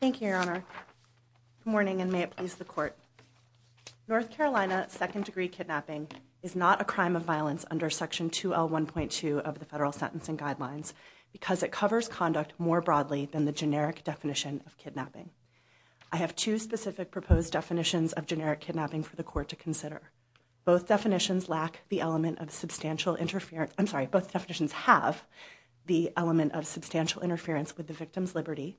Thank you, your honor. Good morning and may it please the court. North Carolina second degree kidnapping is not a crime of violence under section 2L1.2 of the federal sentencing guidelines because it covers conduct more broadly than the generic definition of kidnapping. I have two specific proposed definitions of generic kidnapping for the court to consider. Both definitions lack the element of substantial interference, I'm sorry, both definitions have the element of substantial interference with the victim's liberty.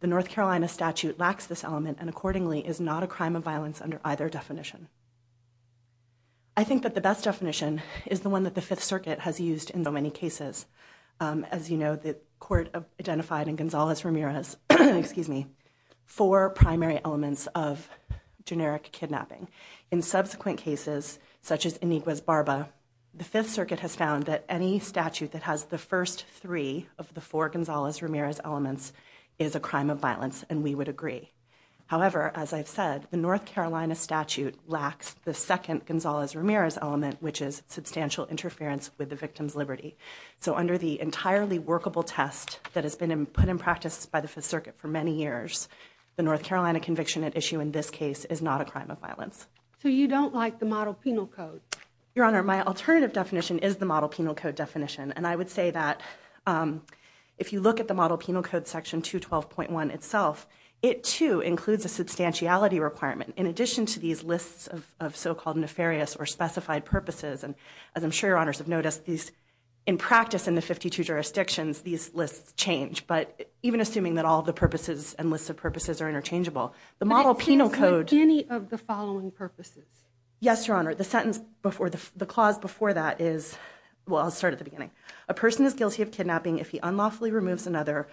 The North Carolina statute lacks this element and accordingly is not a crime of violence under either definition. I think that the best definition is the one that the Fifth Circuit has used in so many four primary elements of generic kidnapping. In subsequent cases such as Inigua's Barba, the Fifth Circuit has found that any statute that has the first three of the four Gonzalez-Ramirez elements is a crime of violence and we would agree. However, as I've said, the North Carolina statute lacks the second Gonzalez-Ramirez element which is substantial interference with the victim's liberty. So under the entirely workable test that has been put in practice by the Fifth Circuit for many years, the North Carolina conviction at issue in this case is not a crime of violence. So you don't like the model penal code? Your Honor, my alternative definition is the model penal code definition and I would say that if you look at the model penal code section 212.1 itself, it too includes a substantiality requirement in addition to these lists of so-called nefarious or specified purposes. And as I'm sure Your Honors have noticed, in practice in the 52 jurisdictions these lists change. But even assuming that all the purposes and lists of purposes are interchangeable, the model penal code... But it can't include any of the following purposes? Yes, Your Honor. The sentence before the clause before that is, well I'll start at the beginning. A person is guilty of kidnapping if he unlawfully removes another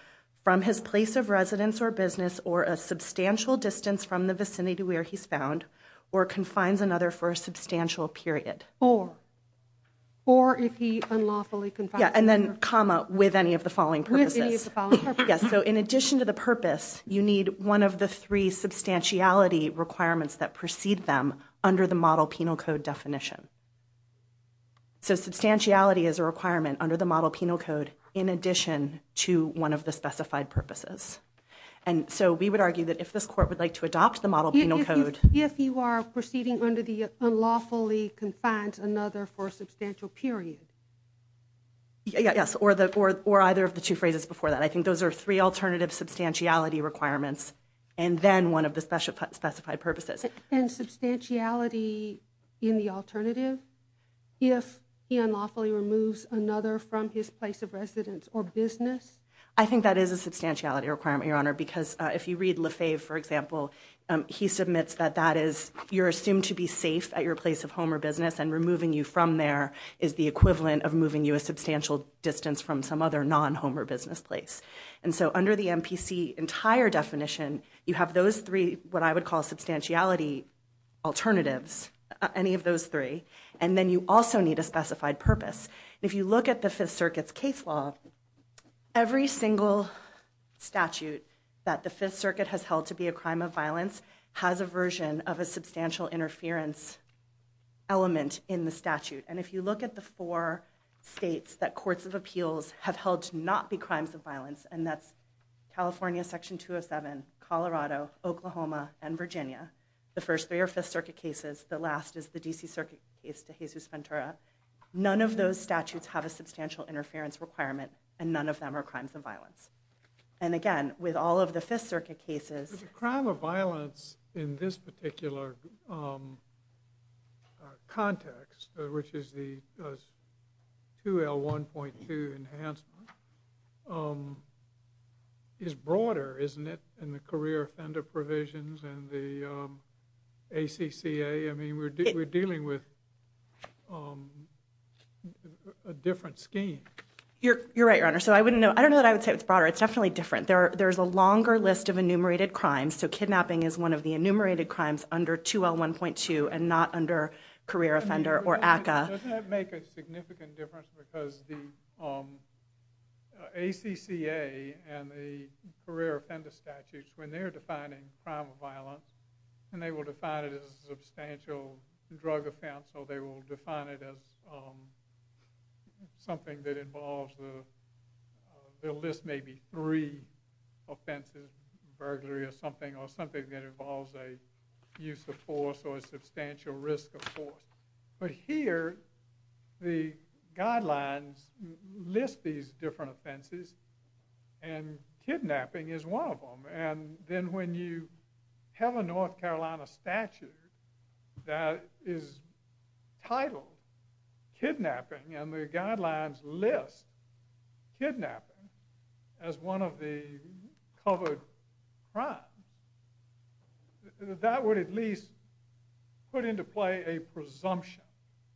from his place of residence or business or a substantial distance from the vicinity to where he's found or confines another for a substantial period. Or? Or if he unlawfully confines another... And then comma, with any of the following purposes. With any of the following purposes. Yes. So in addition to the purpose, you need one of the three substantiality requirements that precede them under the model penal code definition. So substantiality is a requirement under the model penal code in addition to one of the specified purposes. And so we would argue that if this Court would like to adopt the model penal code... Yes. Or either of the two phrases before that. I think those are three alternative substantiality requirements and then one of the specified purposes. And substantiality in the alternative? If he unlawfully removes another from his place of residence or business? I think that is a substantiality requirement, Your Honor, because if you read Lefebvre, for example, he submits that that is, you're assumed to be safe at your place of home or distance from some other non-home or business place. And so under the MPC entire definition, you have those three, what I would call substantiality alternatives, any of those three. And then you also need a specified purpose. If you look at the Fifth Circuit's case law, every single statute that the Fifth Circuit has held to be a crime of violence has a version of a substantial interference element in the statute. And if you look at the four states that courts of appeals have held to not be crimes of violence, and that's California Section 207, Colorado, Oklahoma, and Virginia, the first three are Fifth Circuit cases. The last is the D.C. Circuit case to Jesus Ventura. None of those statutes have a substantial interference requirement and none of them are crimes of violence. And again, with all of the Fifth Circuit cases... The crime of violence in this particular context, which is the 2L1.2 enhancement, is broader, isn't it, in the career offender provisions and the ACCA? I mean, we're dealing with a different scheme. You're right, Your Honor. So I wouldn't know, I don't know that I would say it's broader. It's definitely different. There's a longer list of enumerated crimes, so kidnapping is one of the enumerated crimes under 2L1.2 and not under career offender or ACCA. Doesn't that make a significant difference because the ACCA and the career offender statutes, when they're defining crime of violence, and they will define it as substantial drug offense or they will define it as something that involves... They'll list maybe three offenses, burglary or something, or something that involves a use of force or a substantial risk of force. But here, the guidelines list these different offenses and kidnapping is one of them. And if it is titled kidnapping and the guidelines list kidnapping as one of the covered crimes, that would at least put into play a presumption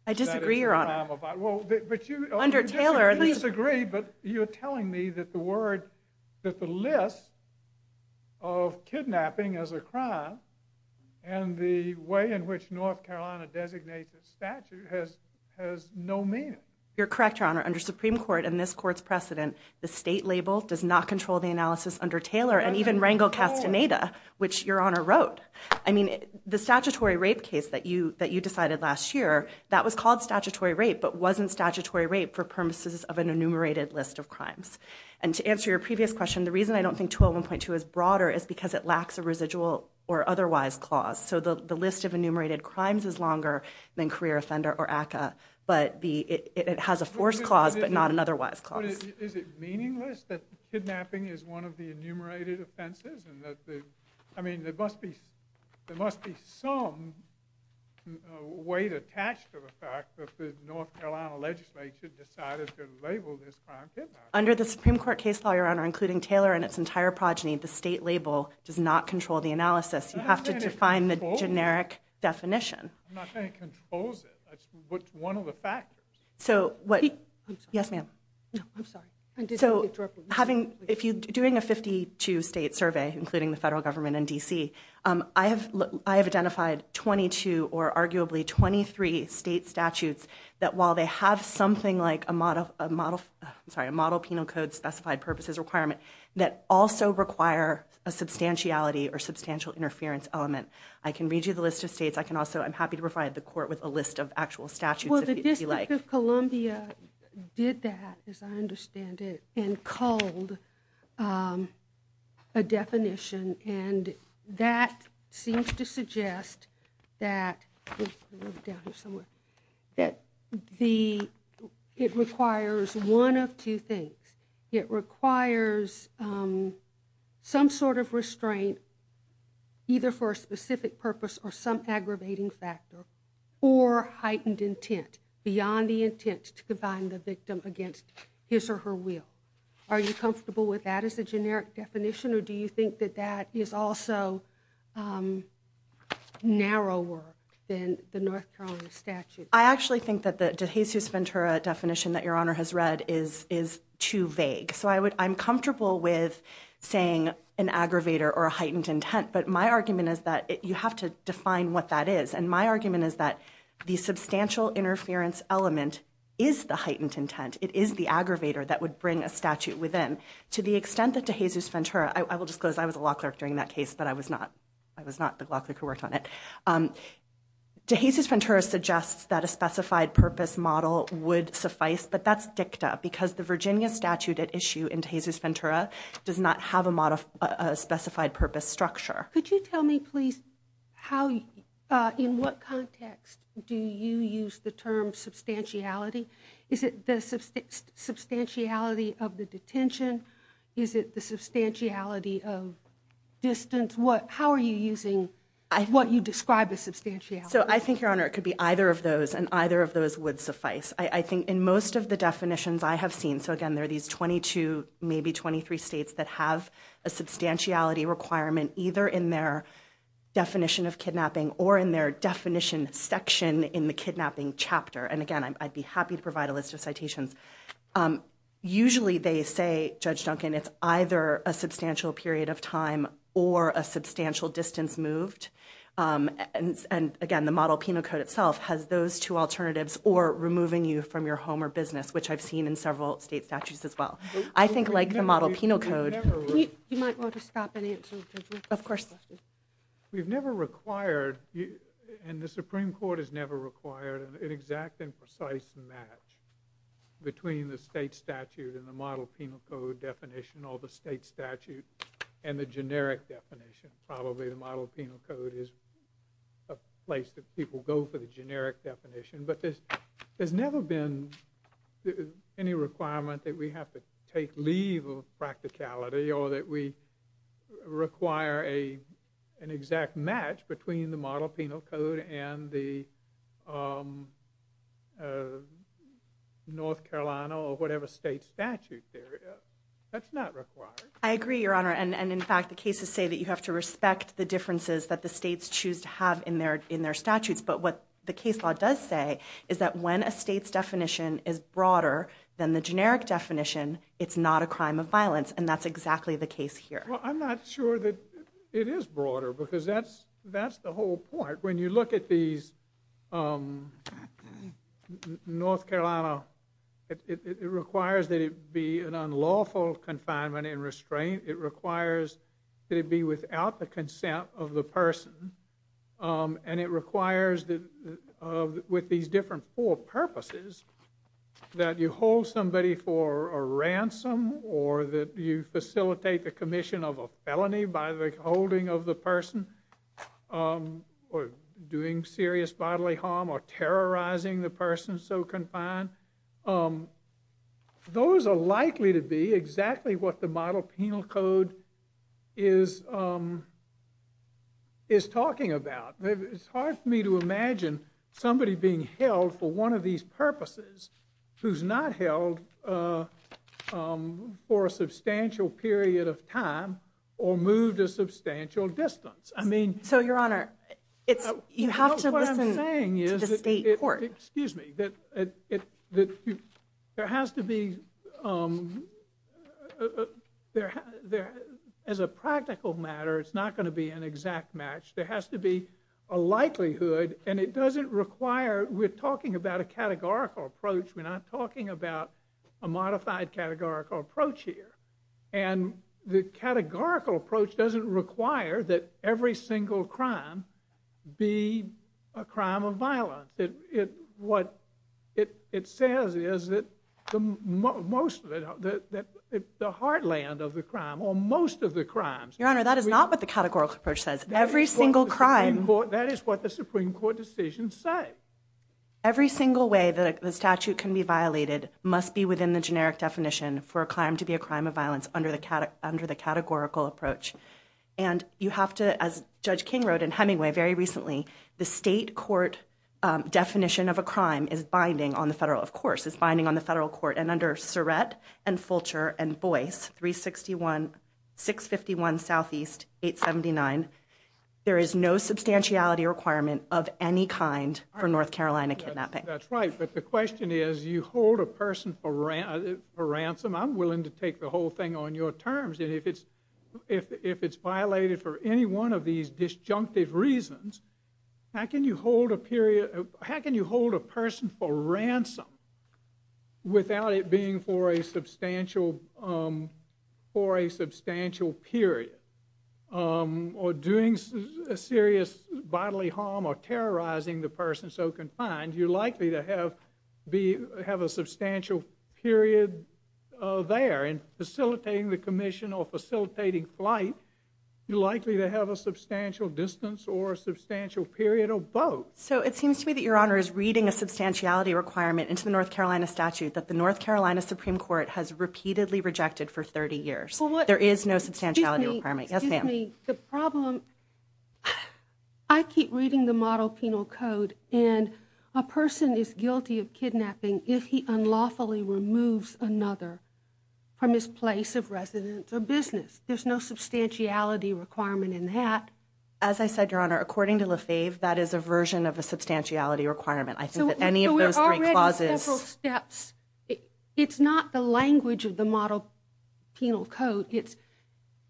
that it's a crime of violence. I disagree, Your Honor. Well, but you... Under Taylor, please... I disagree, but you're telling me that the word, that the list of kidnapping as a crime and the way in which North Carolina designates the statute has no meaning? You're correct, Your Honor. Under Supreme Court and this court's precedent, the state label does not control the analysis under Taylor and even Rangel Castaneda, which Your Honor wrote. I mean, the statutory rape case that you decided last year, that was called statutory rape, but wasn't statutory rape for purposes of an enumerated list of crimes. And to answer your previous question, the reason I don't think 2L1.2 is broader is because it lacks a residual or otherwise clause. So the list of enumerated crimes is longer than career offender or ACCA, but it has a force clause, but not an otherwise clause. Is it meaningless that kidnapping is one of the enumerated offenses? I mean, there must be some weight attached to the fact that the North Carolina legislature decided to label this crime kidnapping. Under the Supreme Court case law, Your Honor, including Taylor and its entire progeny, the state label does not control the analysis. You have to define the generic definition. I'm not saying it controls it. It's one of the factors. So what... Yes, ma'am. I'm sorry. So having... If you're doing a 52-state survey, including the federal government and D.C., I have identified 22 or arguably 23 state statutes that while they have something like a model... a substantiality or substantial interference element. I can read you the list of states. I can also... I'm happy to provide the court with a list of actual statutes if you'd like. Well, the District of Columbia did that, as I understand it, and culled a definition, and that seems to suggest that... Let me look down here somewhere. That the... It requires one of two things. It requires some sort of restraint, either for a specific purpose or some aggravating factor, or heightened intent, beyond the intent to confine the victim against his or her will. Are you comfortable with that as a generic definition, or do you think that that is also narrower than the North Carolina statute? I actually think that the De Jesus Ventura definition that Your Honor has read is too vague. So I'm comfortable with saying an aggravator or a heightened intent, but my argument is that you have to define what that is. And my argument is that the substantial interference element is the heightened intent. It is the aggravator that would bring a statute within. To the extent that De Jesus Ventura... I will disclose I was a law clerk during that case, but I was not the law clerk who worked on it. De Jesus Ventura suggests that a specified purpose model would suffice, but that's dicta, because the Virginia statute at issue in De Jesus Ventura does not have a specified purpose structure. Could you tell me, please, how... In what context do you use the term substantiality? Is it the substantiality of the detention? Is it the substantiality of distance? How are you using what you describe as substantiality? So I think, Your Honor, it could be either of those, and either of those would suffice. I think in most of the definitions I have seen... So again, there are these 22, maybe 23 states that have a substantiality requirement either in their definition of kidnapping or in their definition section in the kidnapping chapter. And again, I'd be happy to provide a list of citations. Usually they say, Judge Duncan, it's either a substantial period of time or a substantial distance moved. And again, the model penal code itself has those two alternatives or removing you from your home or business, which I've seen in several state statutes as well. I think like the model penal code... You might want to stop and answer... Of course. We've never required... And the Supreme Court has never required an exact and precise match. Between the state statute and the model penal code definition, or the state statute and the generic definition. Probably the model penal code is a place that people go for the generic definition. But there's never been any requirement that we have to take leave of practicality or that we require an exact match between the model penal code and the North Carolina or whatever state statute there is. That's not required. I agree, Your Honor. And in fact, the cases say that you have to respect the differences that the states choose to have in their statutes. But what the case law does say is that when a state's definition is broader than the generic definition, it's not a crime of violence. And that's exactly the case here. Well, I'm not sure that it is broader because that's the whole point. When you look at these... North Carolina, it requires that it be an unlawful confinement and restraint. It requires that it be without the consent of the person. And it requires that with these different four purposes, that you hold somebody for a ransom or that you facilitate the commission of a felony by the holding of the person or doing serious bodily harm or terrorizing the person so confined. Those are likely to be exactly what the model penal code is talking about. It's hard for me to imagine somebody being held for one of these purposes who's not held for a substantial period of time or moved a substantial distance. I mean... So, Your Honor, you have to listen to the state court. Excuse me. There has to be... As a practical matter, it's not going to be an exact match. There has to be a likelihood and it doesn't require... We're talking about a categorical approach. We're not talking about a modified categorical approach here. And the categorical approach doesn't require that every single crime be a crime of violence. What it says is that most of it... The heartland of the crime or most of the crimes... Your Honor, that is not what the categorical approach says. Every single crime... That is what the Supreme Court decisions say. Every single way that the statute can be violated must be within the generic definition for a crime to be a crime of violence under the categorical approach. And you have to, as Judge King wrote in Hemingway very recently, the state court definition of a crime is binding on the federal... Of course, it's binding on the federal court. And under Surratt and Fulcher and Boyce, 361-651 Southeast 879, there is no substantiality requirement of any kind for North Carolina kidnapping. That's right. But the question is, you hold a person for ransom. I'm willing to take the whole thing on your terms. And if it's violated for any one of these disjunctive reasons, how can you hold a person for ransom without it being for a substantial period? Or doing serious bodily harm or terrorizing the person so confined, you're likely to have a substantial period there. And facilitating the commission or facilitating flight, you're likely to have a substantial distance or a substantial period of both. So it seems to me that Your Honor is reading a substantiality requirement into the North Carolina statute that the North Carolina Supreme Court has repeatedly rejected for 30 years. There is no substantiality requirement. Yes, ma'am. The problem, I keep reading the model penal code and a person is guilty of kidnapping if he unlawfully removes another from his place of residence or business. There's no substantiality requirement in that. As I said, Your Honor, according to Lefebvre, that is a version of a substantiality requirement. So we're already in several steps. It's not the language of the model penal code. It's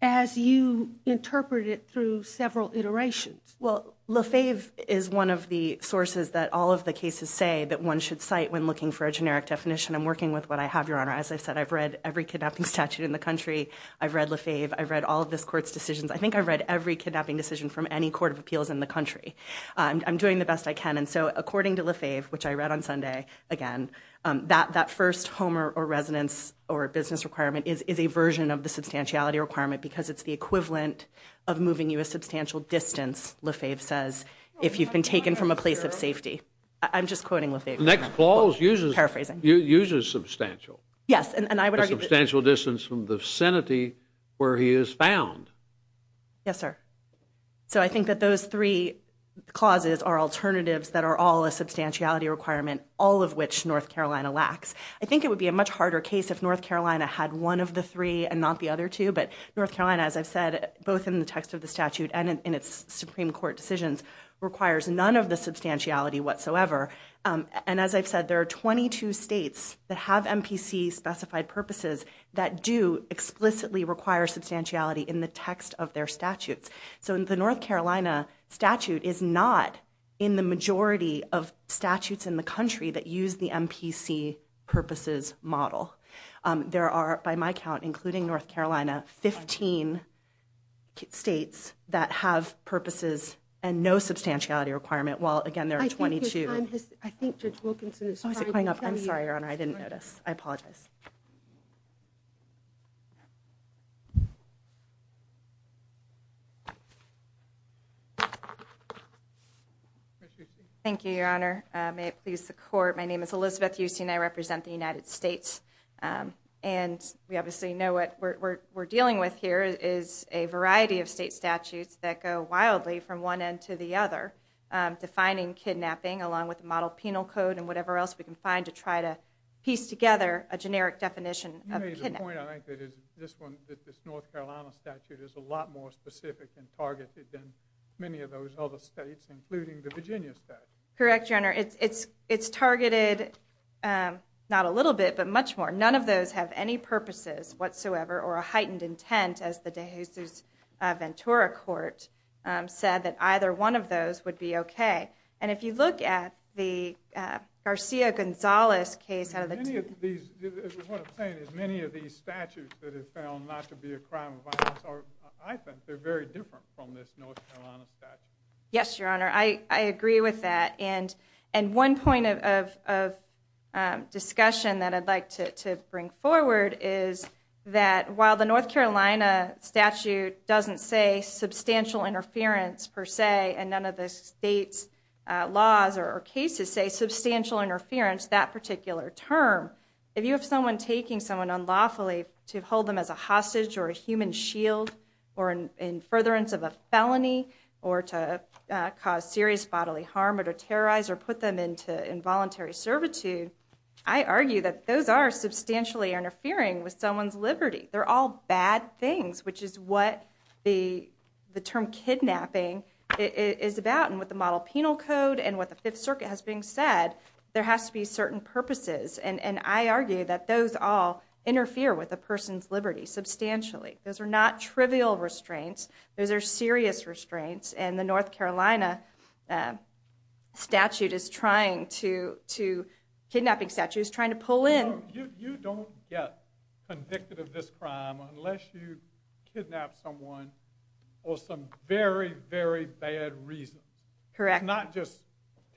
as you interpret it through several iterations. Well, Lefebvre is one of the sources that all of the cases say that one should cite when looking for a generic definition. I'm working with what I have, Your Honor. As I've said, I've read every kidnapping statute in the country. I've read Lefebvre. I've read all of this court's decisions. I think I've read every kidnapping decision from any court of appeals in the country. I'm doing the best I can. And so, according to Lefebvre, which I read on Sunday, again, that first home or residence or business requirement is a version of the substantiality requirement because it's the equivalent of moving you a substantial distance, Lefebvre says, if you've been taken from a place of safety. I'm just quoting Lefebvre. The next clause uses substantial. Yes, and I would argue— A substantial distance from the vicinity where he is found. Yes, sir. So, I think that those three clauses are alternatives that are all a substantiality requirement, all of which North Carolina lacks. I think it would be a much harder case if North Carolina had one of the three and not the other two. But North Carolina, as I've said, both in the text of the statute and in its Supreme Court decisions, requires none of the substantiality whatsoever. And as I've said, there are 22 states that have MPC-specified purposes that do explicitly require substantiality in the text of their statutes. So, the North Carolina statute is not in the majority of statutes in the country that use the MPC-purposes model. There are, by my count, including North Carolina, 15 states that have purposes and no substantiality requirement, while, again, there are 22— I think your time has—I think Judge Wilkinson is— Oh, is it coming up? I'm sorry, Your Honor, I didn't notice. I apologize. Thank you, Your Honor. May it please the Court. My name is Elizabeth Huston. I represent the United States. And we obviously know what we're dealing with here is a variety of state statutes that go wildly from one end to the other, defining kidnapping along with the model penal code and whatever else we can find to try to piece together a generic definition of kidnapping. You made the point, I think, that this North Carolina statute is a lot more specific and targeted than many of those other states, including the Virginia statute. Correct, Your Honor. It's targeted not a little bit, but much more. None of those have any purposes whatsoever or a heightened intent, as the De Jesus Ventura Court said, that either one of those would be okay. And if you look at the Garcia-Gonzalez case— Many of these—what I'm saying is many of these statutes that have failed not to be a crime of violence are— I think they're very different from this North Carolina statute. Yes, Your Honor, I agree with that. And one point of discussion that I'd like to bring forward is that while the North Carolina statute doesn't say substantial interference per se and none of the state's laws or cases say substantial interference that particular term, if you have someone taking someone unlawfully to hold them as a hostage or a human shield or in furtherance of a felony or to cause serious bodily harm or to terrorize or put them into involuntary servitude, I argue that those are substantially interfering with someone's liberty. They're all bad things, which is what the term kidnapping— is about and what the model penal code and what the Fifth Circuit has been said. There has to be certain purposes. And I argue that those all interfere with a person's liberty substantially. Those are not trivial restraints. Those are serious restraints. And the North Carolina statute is trying to— kidnapping statute is trying to pull in— You don't get convicted of this crime unless you kidnap someone for some very, very bad reasons. Correct. It's not just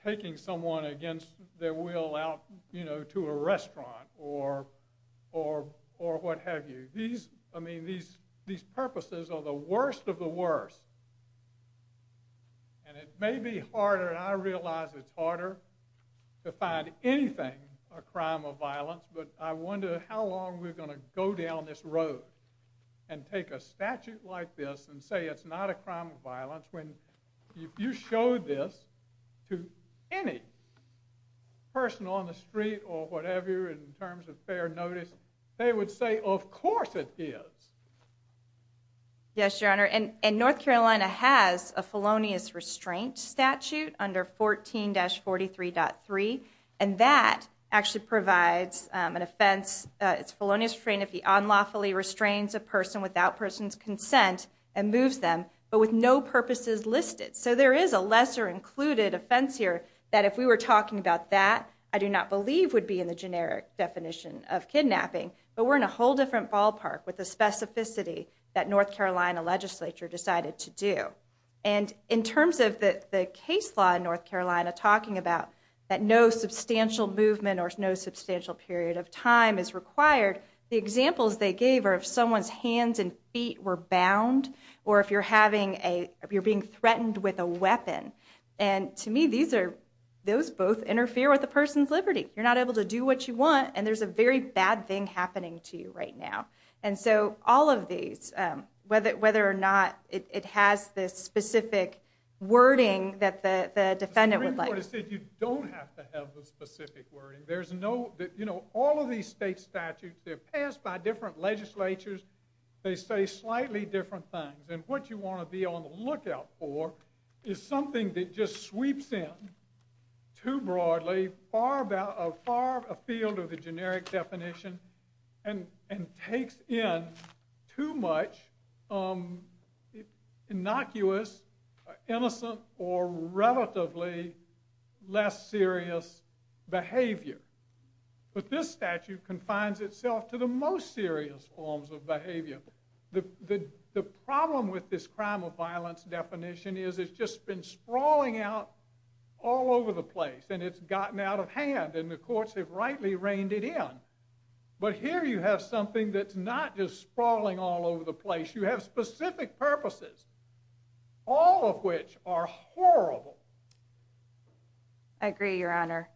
taking someone against their will out, you know, to a restaurant or what have you. These—I mean, these purposes are the worst of the worst. And it may be harder, and I realize it's harder, to find anything a crime of violence, but I wonder how long we're going to go down this road and take a statute like this and say it's not a crime of violence when you show this to any person on the street or whatever in terms of fair notice, they would say, of course it is. Yes, Your Honor, and North Carolina has a felonious restraint statute under 14-43.3, and that actually provides an offense. It's felonious restraint if he unlawfully restrains a person without person's consent and moves them, but with no purposes listed. So there is a lesser included offense here that if we were talking about that, I do not believe would be in the generic definition of kidnapping, but we're in a whole different ballpark with the specificity that North Carolina legislature decided to do. And in terms of the case law in North Carolina talking about that no substantial movement or no substantial period of time is required, the examples they gave are if someone's hands and feet were bound, or if you're being threatened with a weapon. And to me, those both interfere with a person's liberty. You're not able to do what you want, and there's a very bad thing happening to you right now. And so all of these, whether or not it has this specific wording that the defendant would like. You don't have to have the specific wording. There's no, you know, all of these state statutes, they're passed by different legislatures. They say slightly different things. And what you want to be on the lookout for is something that just sweeps in too broadly, far afield of the generic definition, and takes in too much innocuous, innocent, or relatively less serious behavior. But this statute confines itself to the most serious forms of behavior. The problem with this crime of violence definition is it's just been sprawling out all over the place, and it's gotten out of hand, and the courts have rightly reined it in. But here you have something that's not just sprawling all over the place. You have specific purposes, all of which are horrible. I agree, Your Honor.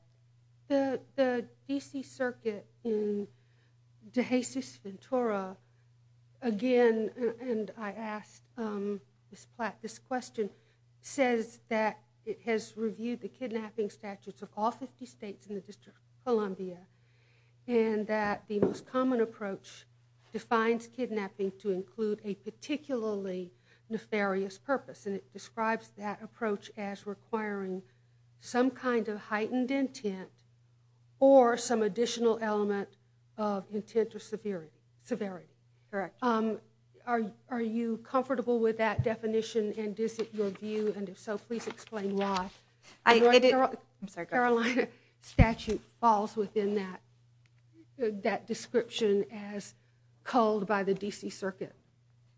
The D.C. Circuit in Dehesus-Ventura, again, and I asked this question, says that it has reviewed the kidnapping statutes of all 50 states in the District of Columbia, and that the most common approach defines kidnapping to include a particularly nefarious purpose. And it describes that approach as requiring some kind of heightened intent, or some additional element of intent or severity. Correct. Are you comfortable with that definition? And is it your view? And if so, please explain why the Carolina statute falls within that description as culled by the D.C. Circuit?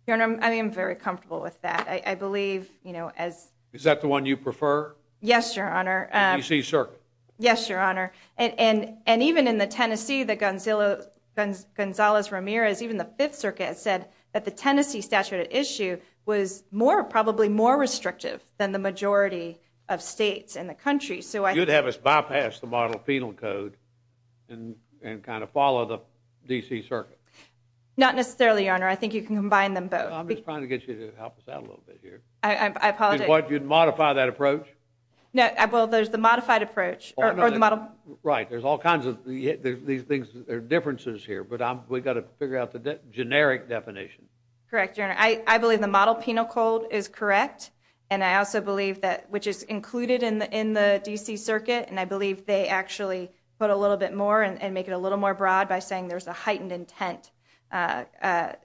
Your Honor, I am very comfortable with that. I believe, you know, as— Is that the one you prefer? Yes, Your Honor. The D.C. Circuit. Yes, Your Honor. And even in the Tennessee, the Gonzales-Ramirez, even the Fifth Circuit said that the Tennessee statute at issue was more, probably more restrictive than the majority of states in the country. You'd have us bypass the model penal code and kind of follow the D.C. Circuit? Not necessarily, Your Honor. I think you can combine them both. I'm just trying to get you to help us out a little bit here. I apologize. You'd modify that approach? No, well, there's the modified approach. Or the model— Right, there's all kinds of these things, there are differences here. But we've got to figure out the generic definition. Correct, Your Honor. I believe the model penal code is correct. And I also believe that, which is included in the D.C. Circuit. And I believe they actually put a little bit more and make it a little more broad by saying there's a heightened intent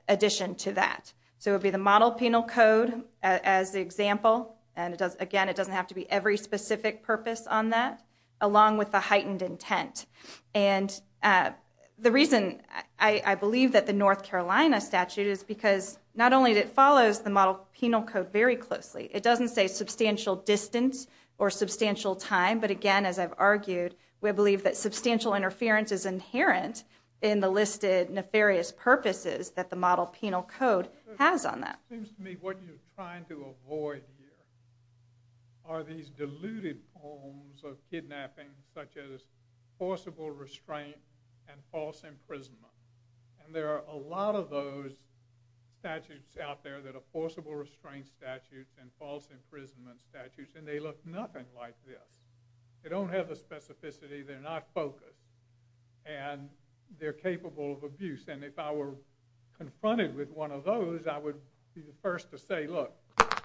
addition to that. So it would be the model penal code as the example. And again, it doesn't have to be every specific purpose on that, along with the heightened intent. And the reason I believe that the North Carolina statute is because not only that it follows the model penal code very closely, it doesn't say substantial distance or substantial time. But again, as I've argued, we believe that substantial interference is inherent in the listed nefarious purposes that the model penal code has on that. It seems to me what you're trying to avoid here are these diluted forms of kidnapping such as forcible restraint and false imprisonment. And there are a lot of those statutes out there that are forcible restraint statutes and false imprisonment statutes. And they look nothing like this. They don't have the specificity. They're not focused. And they're capable of abuse. And if I were confronted with one of those, I would be the first to say, look,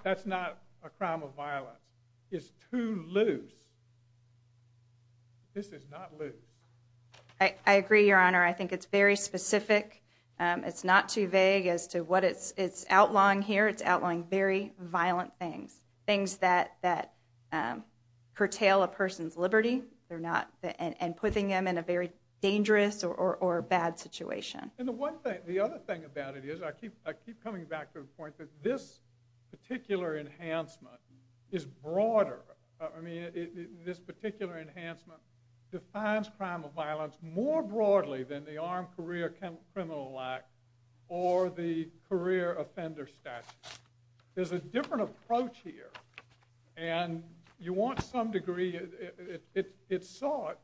that's not a crime of violence. It's too loose. This is not loose. I agree, Your Honor. I think it's very specific. It's not too vague as to what it's it's outlawing here. It's outlawing very violent things, things that that curtail a person's liberty. And putting them in a very dangerous or bad situation. And the other thing about it is, I keep coming back to the point that this particular enhancement is broader. I mean, this particular enhancement defines crime of violence more broadly than the Armed Career Criminal Act or the career offender statute. There's a different approach here. And you want some degree, it sought,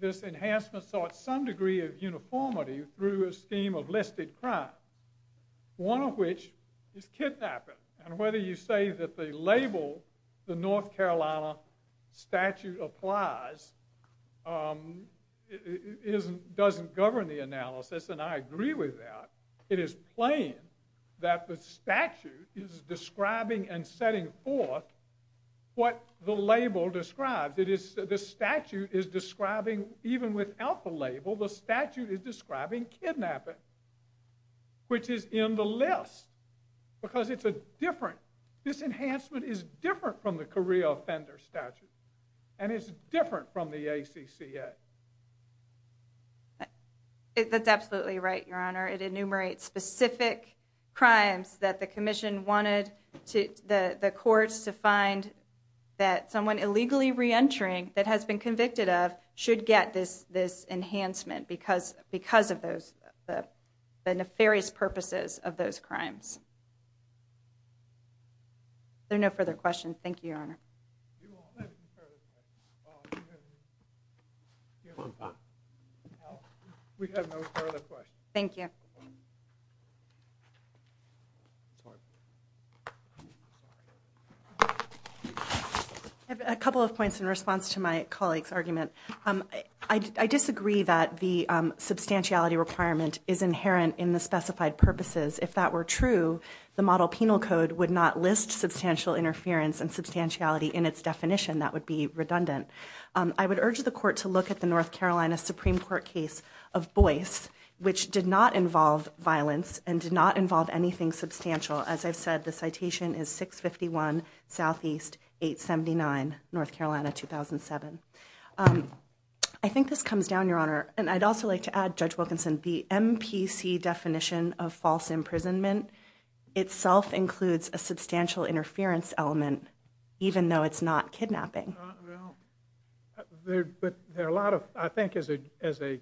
this enhancement sought some degree of uniformity through a scheme of listed crime. One of which is kidnapping. And whether you say that the label the North Carolina statute applies doesn't govern the analysis. And I agree with that. It is plain that the statute is describing and setting forth what the label describes. It is the statute is describing, even without the label, the statute is describing kidnapping. Which is in the list. Because it's a different, this enhancement is different from the career offender statute. And it's different from the ACCA. That's absolutely right, Your Honor. It enumerates specific crimes that the commission wanted the courts to find that someone illegally reentering that has been convicted of should get this enhancement. Because of those, the nefarious purposes of those crimes. Are there no further questions? Thank you, Your Honor. We have no further questions. Thank you. I have a couple of points in response to my colleague's argument. I disagree that the substantiality requirement is inherent in the specified purposes. If that were true, the model penal code would not list substantial interference and substantiality in its definition. That would be redundant. I would urge the court to look at the North Carolina Supreme Court case of Boyce, which did not involve violence and did not involve anything substantial. As I've said, the citation is 651 Southeast 879 North Carolina 2007. I think this comes down, Your Honor. And I'd also like to add, Judge Wilkinson, the MPC definition of false imprisonment itself includes a substantial interference element, even though it's not kidnapping. But there are a lot of, I think, as a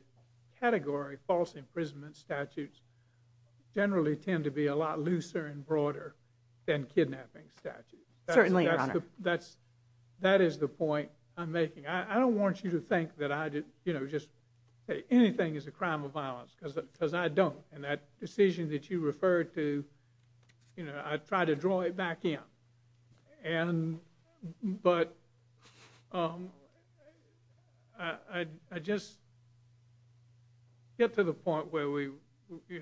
category, false imprisonment statutes generally tend to be a lot looser and broader than kidnapping statutes. Certainly. That's that is the point I'm making. I don't want you to think that I did, you know, just anything is a crime of violence because I don't. And that decision that you referred to, you know, I try to draw it back in. And but I just get to the point where we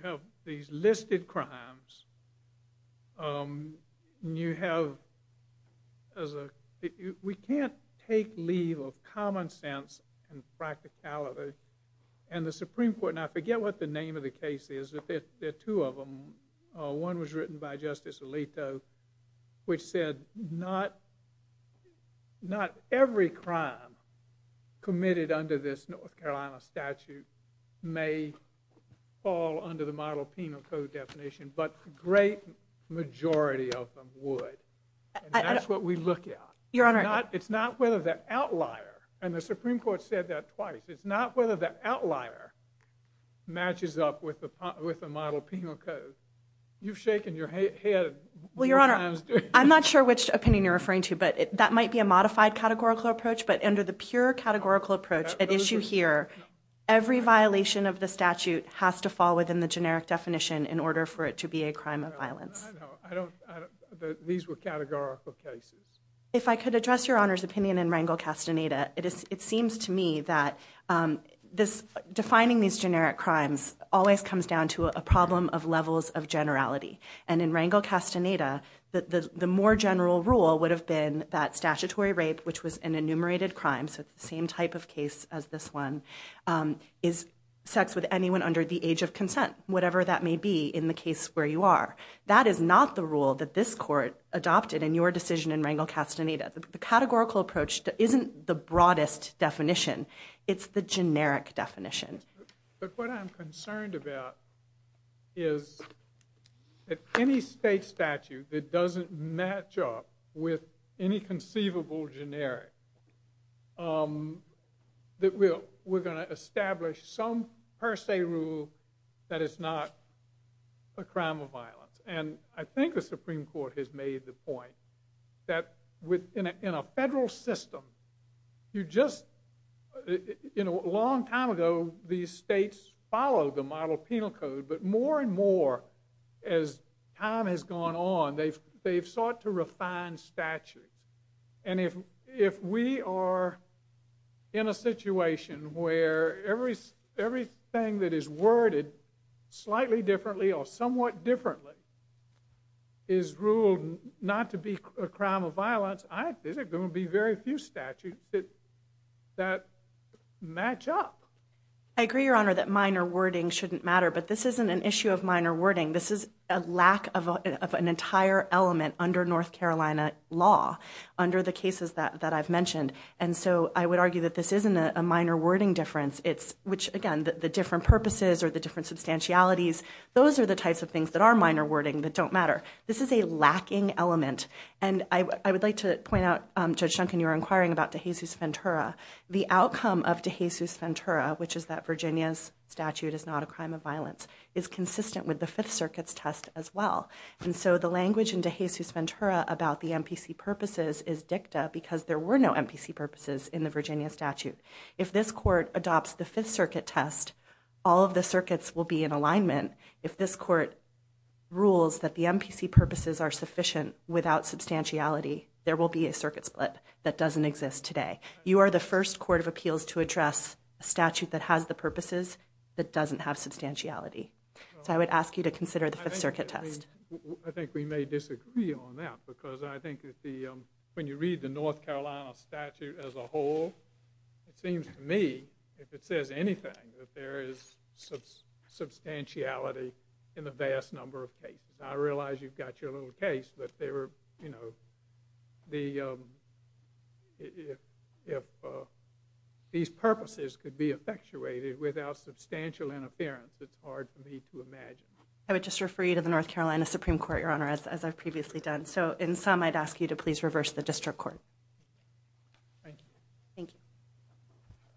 have these listed crimes. You have as a we can't take leave of common sense and practicality. And the Supreme Court and I forget what the name of the case is, but there are two of them. One was written by Justice Alito, which said not not every crime committed under this North Carolina statute may fall under the model penal code definition. But the great majority of them would. And that's what we look at. Your Honor, it's not whether the outlier and the Supreme Court said that twice. It's not whether the outlier matches up with the with the model penal code. You've shaken your head. Well, Your Honor, I'm not sure which opinion you're referring to, but that might be a modified categorical approach. But under the pure categorical approach at issue here, every violation of the statute has to fall within the generic definition in order for it to be a crime of violence. I don't know that these were categorical cases. If I could address Your Honor's opinion in Rangel Castaneda, it is it seems to me that this defining these generic crimes always comes down to a problem of levels of generality. And in Rangel Castaneda, the more general rule would have been that statutory rape, which was an enumerated crime. So the same type of case as this one is sex with anyone under the age of consent, whatever that may be in the case where you are. That is not the rule that this court adopted in your decision in Rangel Castaneda. The categorical approach isn't the broadest definition. It's the generic definition. But what I'm concerned about is that any state statute that doesn't match up with any conceivable generic, that we're going to establish some per se rule that it's not a crime of violence. And I think the Supreme Court has made the point that within a federal system, you just, you know, a long time ago, these states followed the model penal code. But more and more, as time has gone on, they've sought to refine statutes. And if we are in a situation where everything that is worded slightly differently or somewhat differently is ruled not to be a crime of violence, I think there are going to be very few statutes that match up. I agree, Your Honor, that minor wording shouldn't matter. But this isn't an issue of minor wording. This is a lack of an entire element under North Carolina law, under the cases that I've mentioned. And so I would argue that this isn't a minor wording difference. It's, which again, the different purposes or the different substantialities, those are the types of things that are minor wording that don't matter. This is a lacking element. And I would like to point out, Judge Duncan, you were inquiring about De Jesus Ventura. The outcome of De Jesus Ventura, which is that Virginia's statute is not a crime of violence, is consistent with the Fifth Circuit's test as well. And so the language in De Jesus Ventura about the MPC purposes is dicta because there were no MPC purposes in the Virginia statute. If this court adopts the Fifth Circuit test, all of the circuits will be in alignment. If this court rules that the MPC purposes are sufficient without substantiality, there will be a circuit split that doesn't exist today. You are the first court of appeals to address a statute that has the purposes that doesn't have substantiality. So I would ask you to consider the Fifth Circuit test. I think we may disagree on that because I think that the, when you read the North Carolina statute as a whole, it seems to me, if it says anything, that there is substantiality in the vast number of cases. I realize you've got your little case, but they were, you know, if these purposes could be effectuated without substantial interference, it's hard for me to imagine. I would just refer you to the North Carolina Supreme Court, Your Honor, as I've previously done. So in sum, I'd ask you to please reverse the district court. Thank you. Thank you.